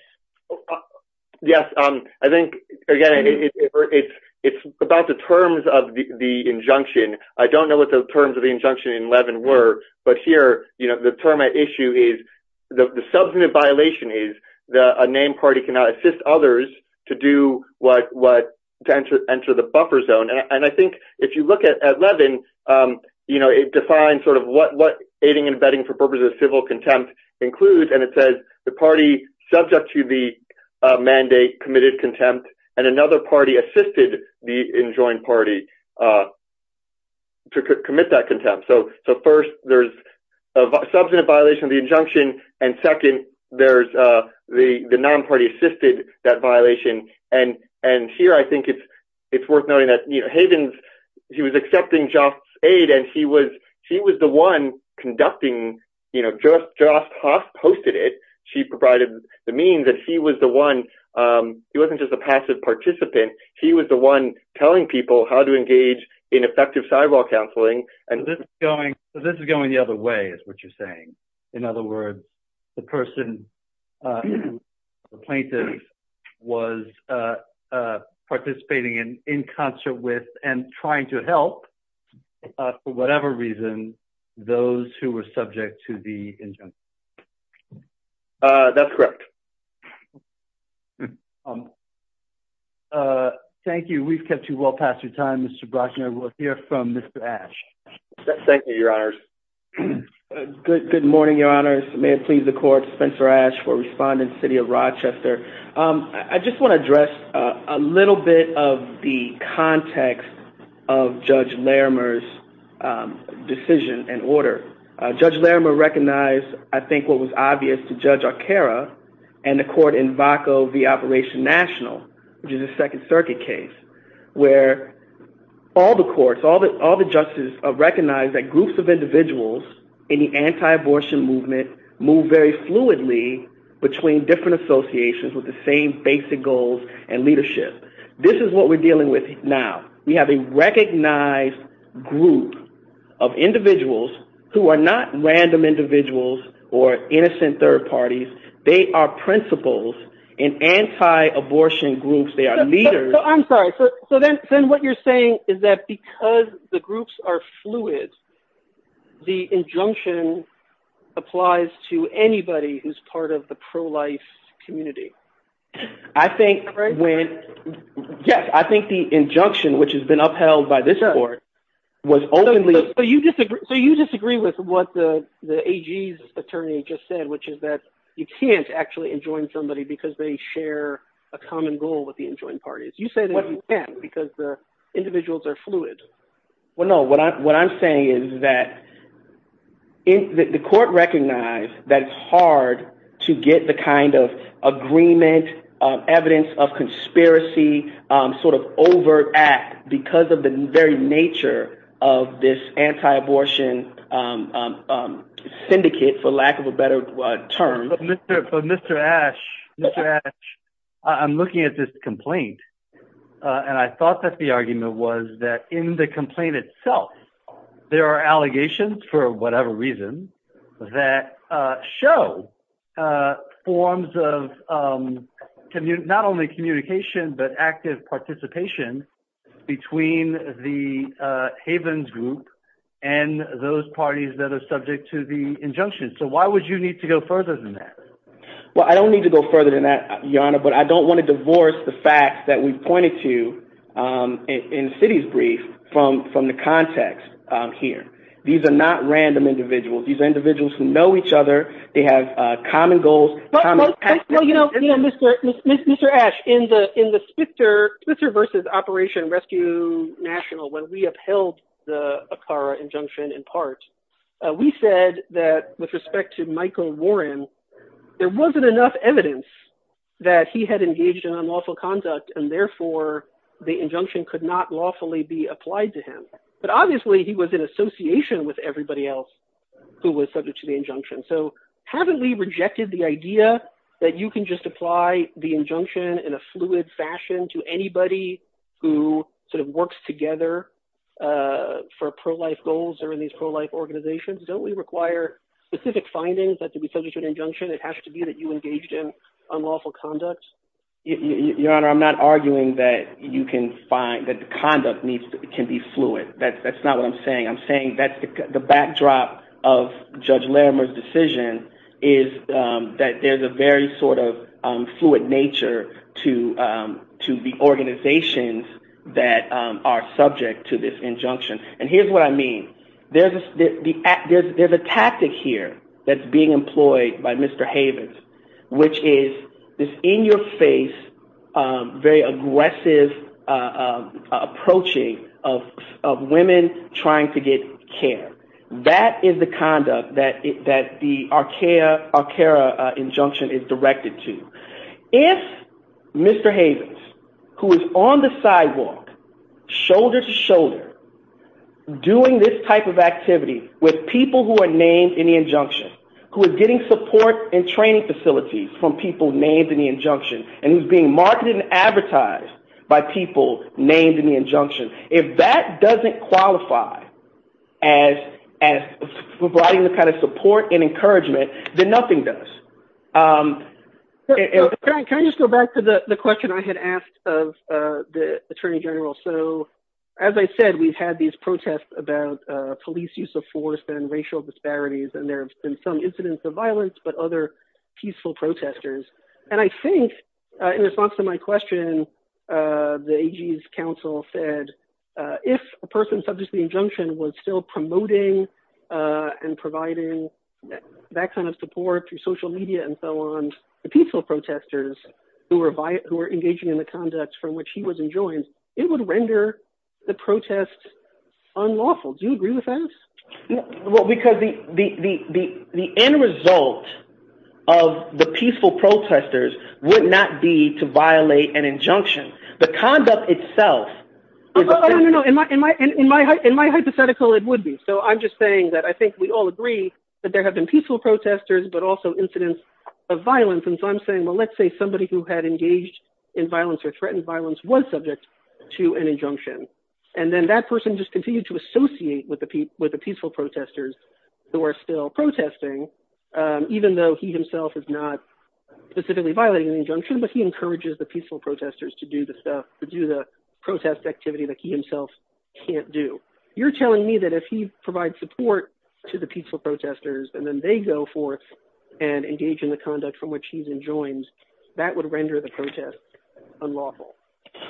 Yes. I think, again, it's about the terms of the injunction. I don't know what the terms of the injunction in Levin were, but here, the term at issue is the substantive violation is that a named party cannot assist others to do what, to enter the buffer zone. And I think if you look at Levin, it defines sort of what aiding and abetting for purposes of civil contempt includes. And it says the party subject to the mandate committed contempt, and another party assisted the enjoined party to commit that contempt. So first, there's a substantive violation of the injunction. And second, there's the non-party assisted that violation. And here, I think it's worth noting that Havens, he was accepting Jost's aid and he was the one conducting, Jost hosted it. She provided the means that he was the one. He wasn't just a passive participant. He was the one telling people how to engage in effective sidewall counseling. So this is going the other way, is what you're saying. In other words, the person, the plaintiff was participating in concert with and trying to help, for whatever reason, those who were subject to the injunction. That's correct. Thank you. We've kept you well past your time, Mr. Brochner. We'll hear from Mr. Ash. Thank you, Your Honors. Good morning, Your Honors. May it please the court, Spencer Ash for Respondent, City of Rochester. I just want to address a little bit of the context of Judge Larimer's decision and order. Judge Larimer recognized, I think what was obvious to Judge Arcara and the court in VACO v. Operation National, which is a Second Circuit case, where all the courts, all the judges have recognized that groups of individuals in the anti-abortion movement move very fluidly between different associations with the same basic goals and leadership. This is what we're dealing with now. We have a recognized group of individuals who are not anti-abortion groups. They are leaders. I'm sorry. So then what you're saying is that because the groups are fluid, the injunction applies to anybody who's part of the pro-life community? I think when, yes, I think the injunction, which has been upheld by this court, was openly... So you disagree with what the AG's attorney just said, which is that you can't actually enjoin somebody because they share a common goal with the enjoined parties. You say that you can't because the individuals are fluid. Well, no. What I'm saying is that the court recognized that it's hard to get the kind of agreement, evidence of conspiracy, sort of overact because of the very nature of this anti-abortion syndicate, for lack of a better term. But Mr. Ash, I'm looking at this complaint and I thought that the argument was that in the complaint itself, there are allegations for whatever reason that show forms of not only communication, but active participation between the Havens group and those parties that are involved. Well, I don't need to go further than that, Your Honor, but I don't want to divorce the facts that we've pointed to in the city's brief from the context here. These are not random individuals. These are individuals who know each other. They have common goals. Mr. Ash, in the Spitzer versus Operation Rescue National, when we upheld the ACARA injunction in part, we said that with respect to Michael Warren, there wasn't enough evidence that he had engaged in unlawful conduct and therefore the injunction could not lawfully be applied to him. But obviously, he was in association with everybody else who was subject to the injunction. So haven't we rejected the idea that you can just apply the injunction in a fluid fashion to anybody who sort of works together for pro-life goals or in these pro-life organizations? Don't we require specific findings that can be subject to an injunction? It has to be that you engaged in unlawful conduct. Your Honor, I'm not arguing that the conduct can be fluid. That's not what I'm saying. I'm saying that the backdrop of Judge Larimer's decision is that there's a very sort of fluid nature to the organizations that are subject to this injunction. And here's what I mean. There's a tactic here that's being employed by Mr. Havens, which is this in-your-face, very aggressive approaching of women trying to get care. That is the conduct that the ACARA injunction is directed to. If Mr. Havens, who is on the sidewalk, shoulder to shoulder, doing this type of activity with people who are named in the injunction, who are getting support and training facilities from people named in the injunction, and who's being marketed and advertised by people named in the injunction, if that doesn't qualify as providing the kind of support and encouragement, then nothing does. Can I just go back to the question I had asked of the Attorney General? So as I said, we've had these protests about police use of force and racial disparities, and there have been some incidents of violence, but other peaceful protesters. And I think in response to my question, the AG's counsel said, if a person subject to the injunction was still promoting and providing that kind of support through social media and so on, the peaceful protesters who were engaging in the conduct from which he was enjoined, it would render the protest unlawful. Do you agree with that? Well, because the end result of the peaceful protesters would not be to violate an injunction. The conduct itself is... Oh, no, no, no. In my hypothetical, it would be. So I'm just saying that I think we all agree that there have been peaceful protesters, but also incidents of violence. And so I'm saying, well, let's say somebody who had engaged in violence or threatened violence was subject to an injunction. And then that person just continued to associate with the peaceful protesters who are still protesting, even though he himself is not specifically violating an injunction, but he encourages the peaceful protesters to do the stuff, to do the protest activity that he himself can't do. You're telling me that if he provides support to the peaceful protesters, and then they go forth and engage in the conduct from which he's enjoined, that would render the protest unlawful?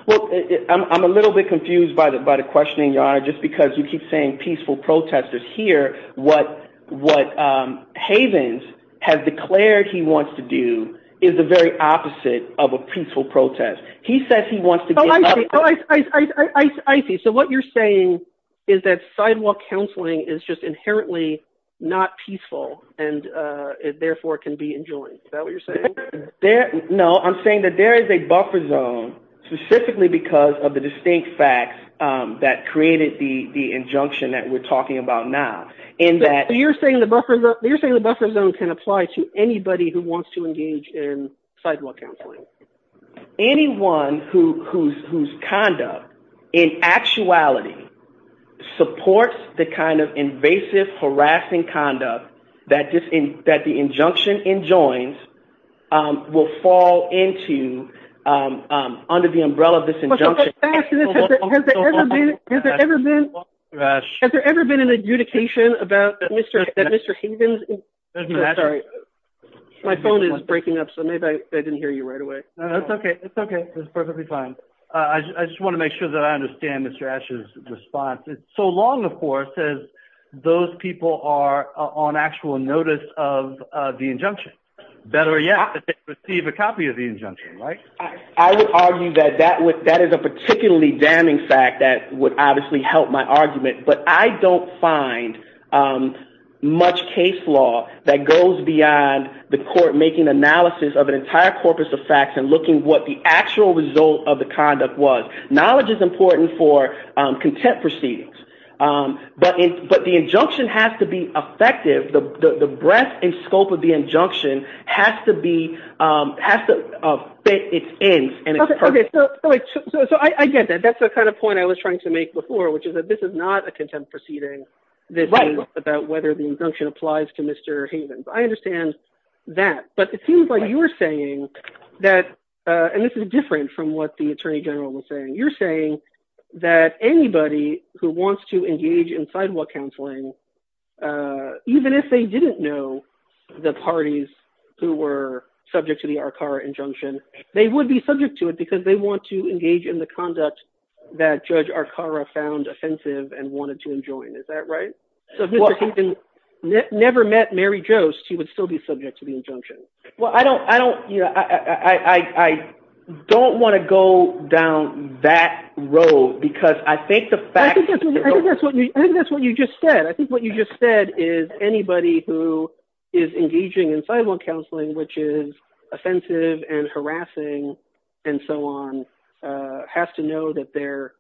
Well, I'm a little bit confused by the questioning, Your Honor, just because you keep saying peaceful protesters. Here, what Havens has declared he wants to do is the very opposite of a peaceful protest. He says he wants to get... Oh, I see. So what you're saying is that sidewalk counseling is just inherently not peaceful, and therefore it can be enjoined. Is that what you're saying? No, I'm saying that there is a buffer zone specifically because of the distinct facts that created the injunction that we're talking about now. So you're saying the buffer zone can apply to anybody who wants to engage in sidewalk counseling? Anyone whose conduct, in actuality, supports the kind of invasive, harassing conduct that the injunction enjoins will fall under the umbrella of this injunction. Has there ever been an adjudication about Mr. Havens? Sorry, my phone is breaking up, so maybe I didn't hear you right away. It's okay, it's perfectly fine. I just want to make sure that I understand Mr. Asch's response. It's so long, of course, as those people are on actual notice of the injunction. Better yet, they receive a copy of the injunction, right? I would argue that that is a particularly damning fact that would obviously help my argument, but I don't find much case law that goes beyond the court making analysis of an injunction, looking at what the actual result of the conduct was. Knowledge is important for contempt proceedings, but the injunction has to be effective. The breadth and scope of the injunction has to fit its ends and its purpose. Okay, so I get that. That's the kind of point I was trying to make before, which is that this is not a contempt proceeding that is about whether the injunction applies to Mr. Havens. I understand that, but it seems like you're saying that, and this is different from what the Attorney General was saying, you're saying that anybody who wants to engage in sidewalk counseling, even if they didn't know the parties who were subject to the Arcara injunction, they would be subject to it because they want to engage in the conduct that Judge Arcara found offensive and wanted to enjoin. Is that right? So if Mr. Havens never met Mary Jost, he would still be subject to the injunction. Well, I don't want to go down that road because I think the fact- I think that's what you just said. I think what you just said is anybody who is engaging in sidewalk counseling, which is offensive and harassing and so on, has to know that their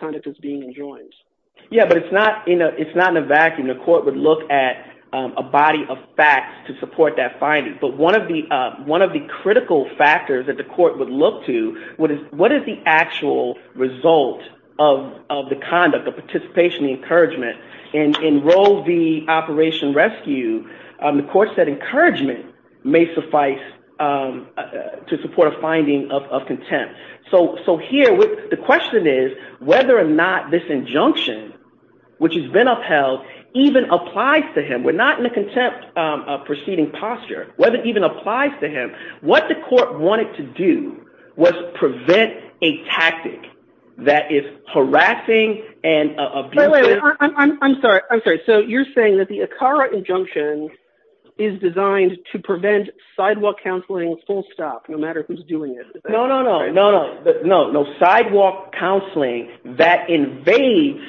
conduct is being enjoined. Yeah, but it's not in a vacuum. The court would look at a body of facts to support that finding. But one of the critical factors that the court would look to, what is the actual result of the conduct, the participation, the encouragement? And in Roe v. Operation Rescue, the court said encouragement may suffice to support a finding of contempt. So here, the question is whether or not this injunction, which has been upheld, even applies to him. We're not in a contempt proceeding posture. Whether it even applies to him, what the court wanted to do was prevent a tactic that is harassing and abusing- Wait, wait, wait. I'm sorry. I'm sorry. So you're saying that the Arcara injunction is designed to prevent sidewalk counseling full stop, no matter who's doing it? No, no, no. No, no. Sidewalk counseling that invades-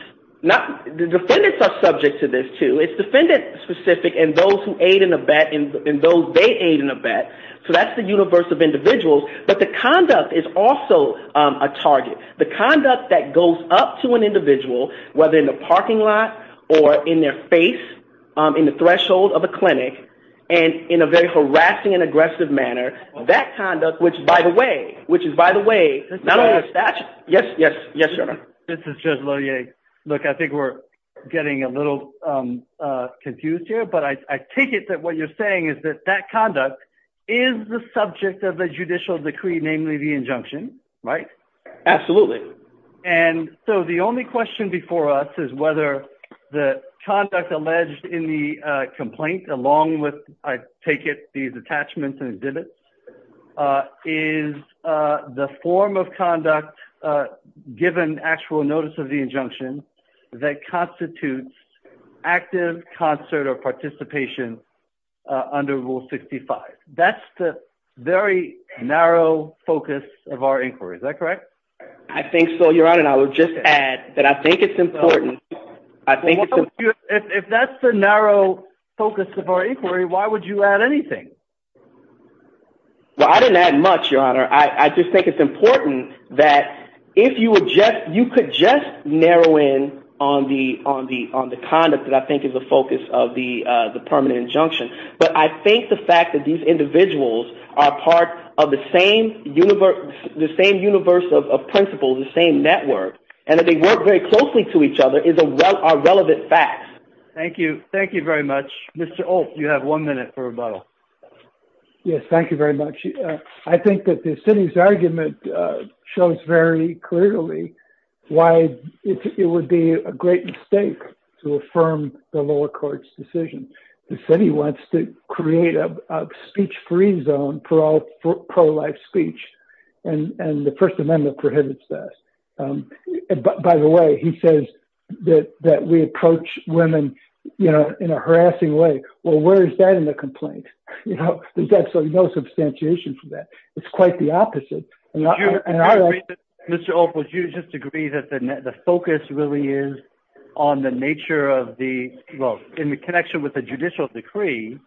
The defendants are subject to this, too. It's defendant-specific and those who aid in a bet and those they aid in a bet. So that's the universe of individuals. But the conduct is also a target. The conduct that goes up to an individual, whether in a parking lot or in their face, in the threshold of a clinic, and in a very harassing and aggressive manner, that conduct, which is, by the way, not only a statute. Yes, yes, yes, your honor. This is Judge Lohier. Look, I think we're getting a little confused here, but I take it that what you're saying is that that conduct is the subject of a judicial decree, namely the injunction, right? Absolutely. And so the only question before us is whether the conduct alleged in the complaint, along with, I take it, these attachments and exhibits, is the form of conduct, given actual notice of the injunction, that constitutes active concert or participation under Rule 65. That's the very narrow focus of our inquiry. Is that correct? I think so, your honor. And I will just add that I think it's important. Well, if that's the narrow focus of our inquiry, why would you add anything? Well, I didn't add much, your honor. I just think it's important that if you would just, you could just narrow in on the conduct that I think is the focus of the permanent injunction. But I think the fact that these individuals are part of the same universe of principles, the same network, and that they work very closely to each other is a relevant fact. Thank you. Thank you very much. Mr. Olt, you have one minute for rebuttal. Yes, thank you very much. I think that the city's argument shows very clearly why it would be a great mistake to affirm the lower court's decision. The city wants to create a speech-free zone for all pro-life speech, and the First Amendment prohibits this. By the way, he says that we approach women, you know, in a harassing way. Well, where is that in the complaint? You know, there's absolutely no substantiation for that. It's quite the opposite. Mr. Olt, would you just agree that the focus really is on the nature of the, well, in the connection with the judicial decree,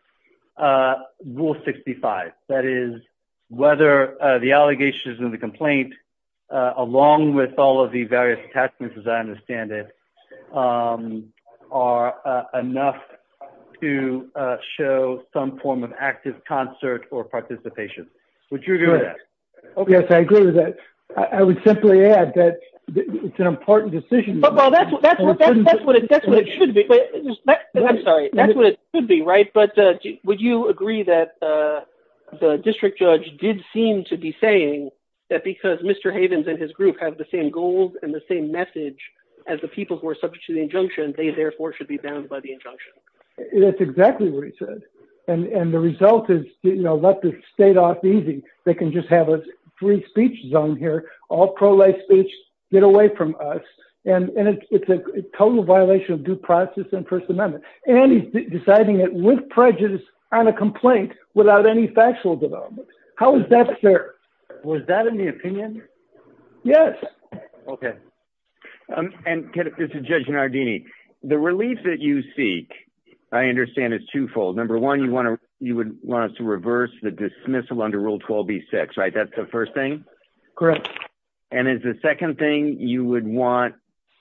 Rule 65, that is whether the allegations in the along with all of the various attachments, as I understand it, are enough to show some form of active concert or participation? Would you agree with that? Yes, I agree with that. I would simply add that it's an important decision. Well, that's what it should be. I'm sorry. That's what it should be, right? Would you agree that the district judge did seem to be saying that because Mr. Havens and his group have the same goals and the same message as the people who are subject to the injunction, they therefore should be bound by the injunction? That's exactly what he said, and the result is, you know, let the state off easy. They can just have a free speech zone here. All pro-life speech get away from us, and it's a total violation of due process and First Amendment. And he's deciding it with prejudice and a complaint without any factual development. How is that fair? Was that in the opinion? Yes. Okay. And this is Judge Nardini. The relief that you seek, I understand, is twofold. Number one, you want to you would want us to reverse the dismissal under Rule 12B-6, right? That's the first thing? Correct. And is the second thing you would want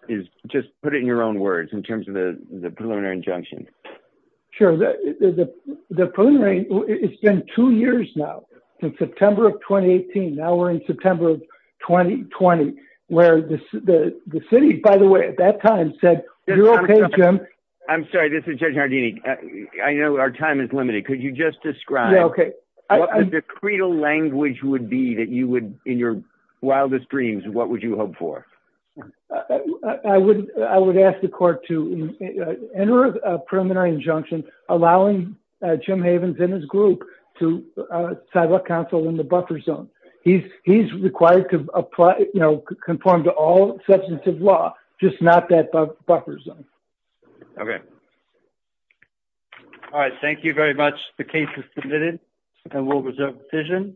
is just put it in your own words in terms of the preliminary injunction? Sure. The preliminary. It's been two years now since September of 2018. Now we're in September of 2020, where the city, by the way, at that time said, you're okay, Jim. I'm sorry. This is Judge Nardini. I know our time is limited. Could you just describe what the creedal language would be that you would in your wildest dreams? What would you hope for? I would ask the court to enter a preliminary injunction, allowing Jim Havens and his group to settle counsel in the buffer zone. He's required to apply, you know, conform to all substantive law, just not that buffer zone. Okay. All right. Thank you very much. The case is submitted and we'll reserve the decision.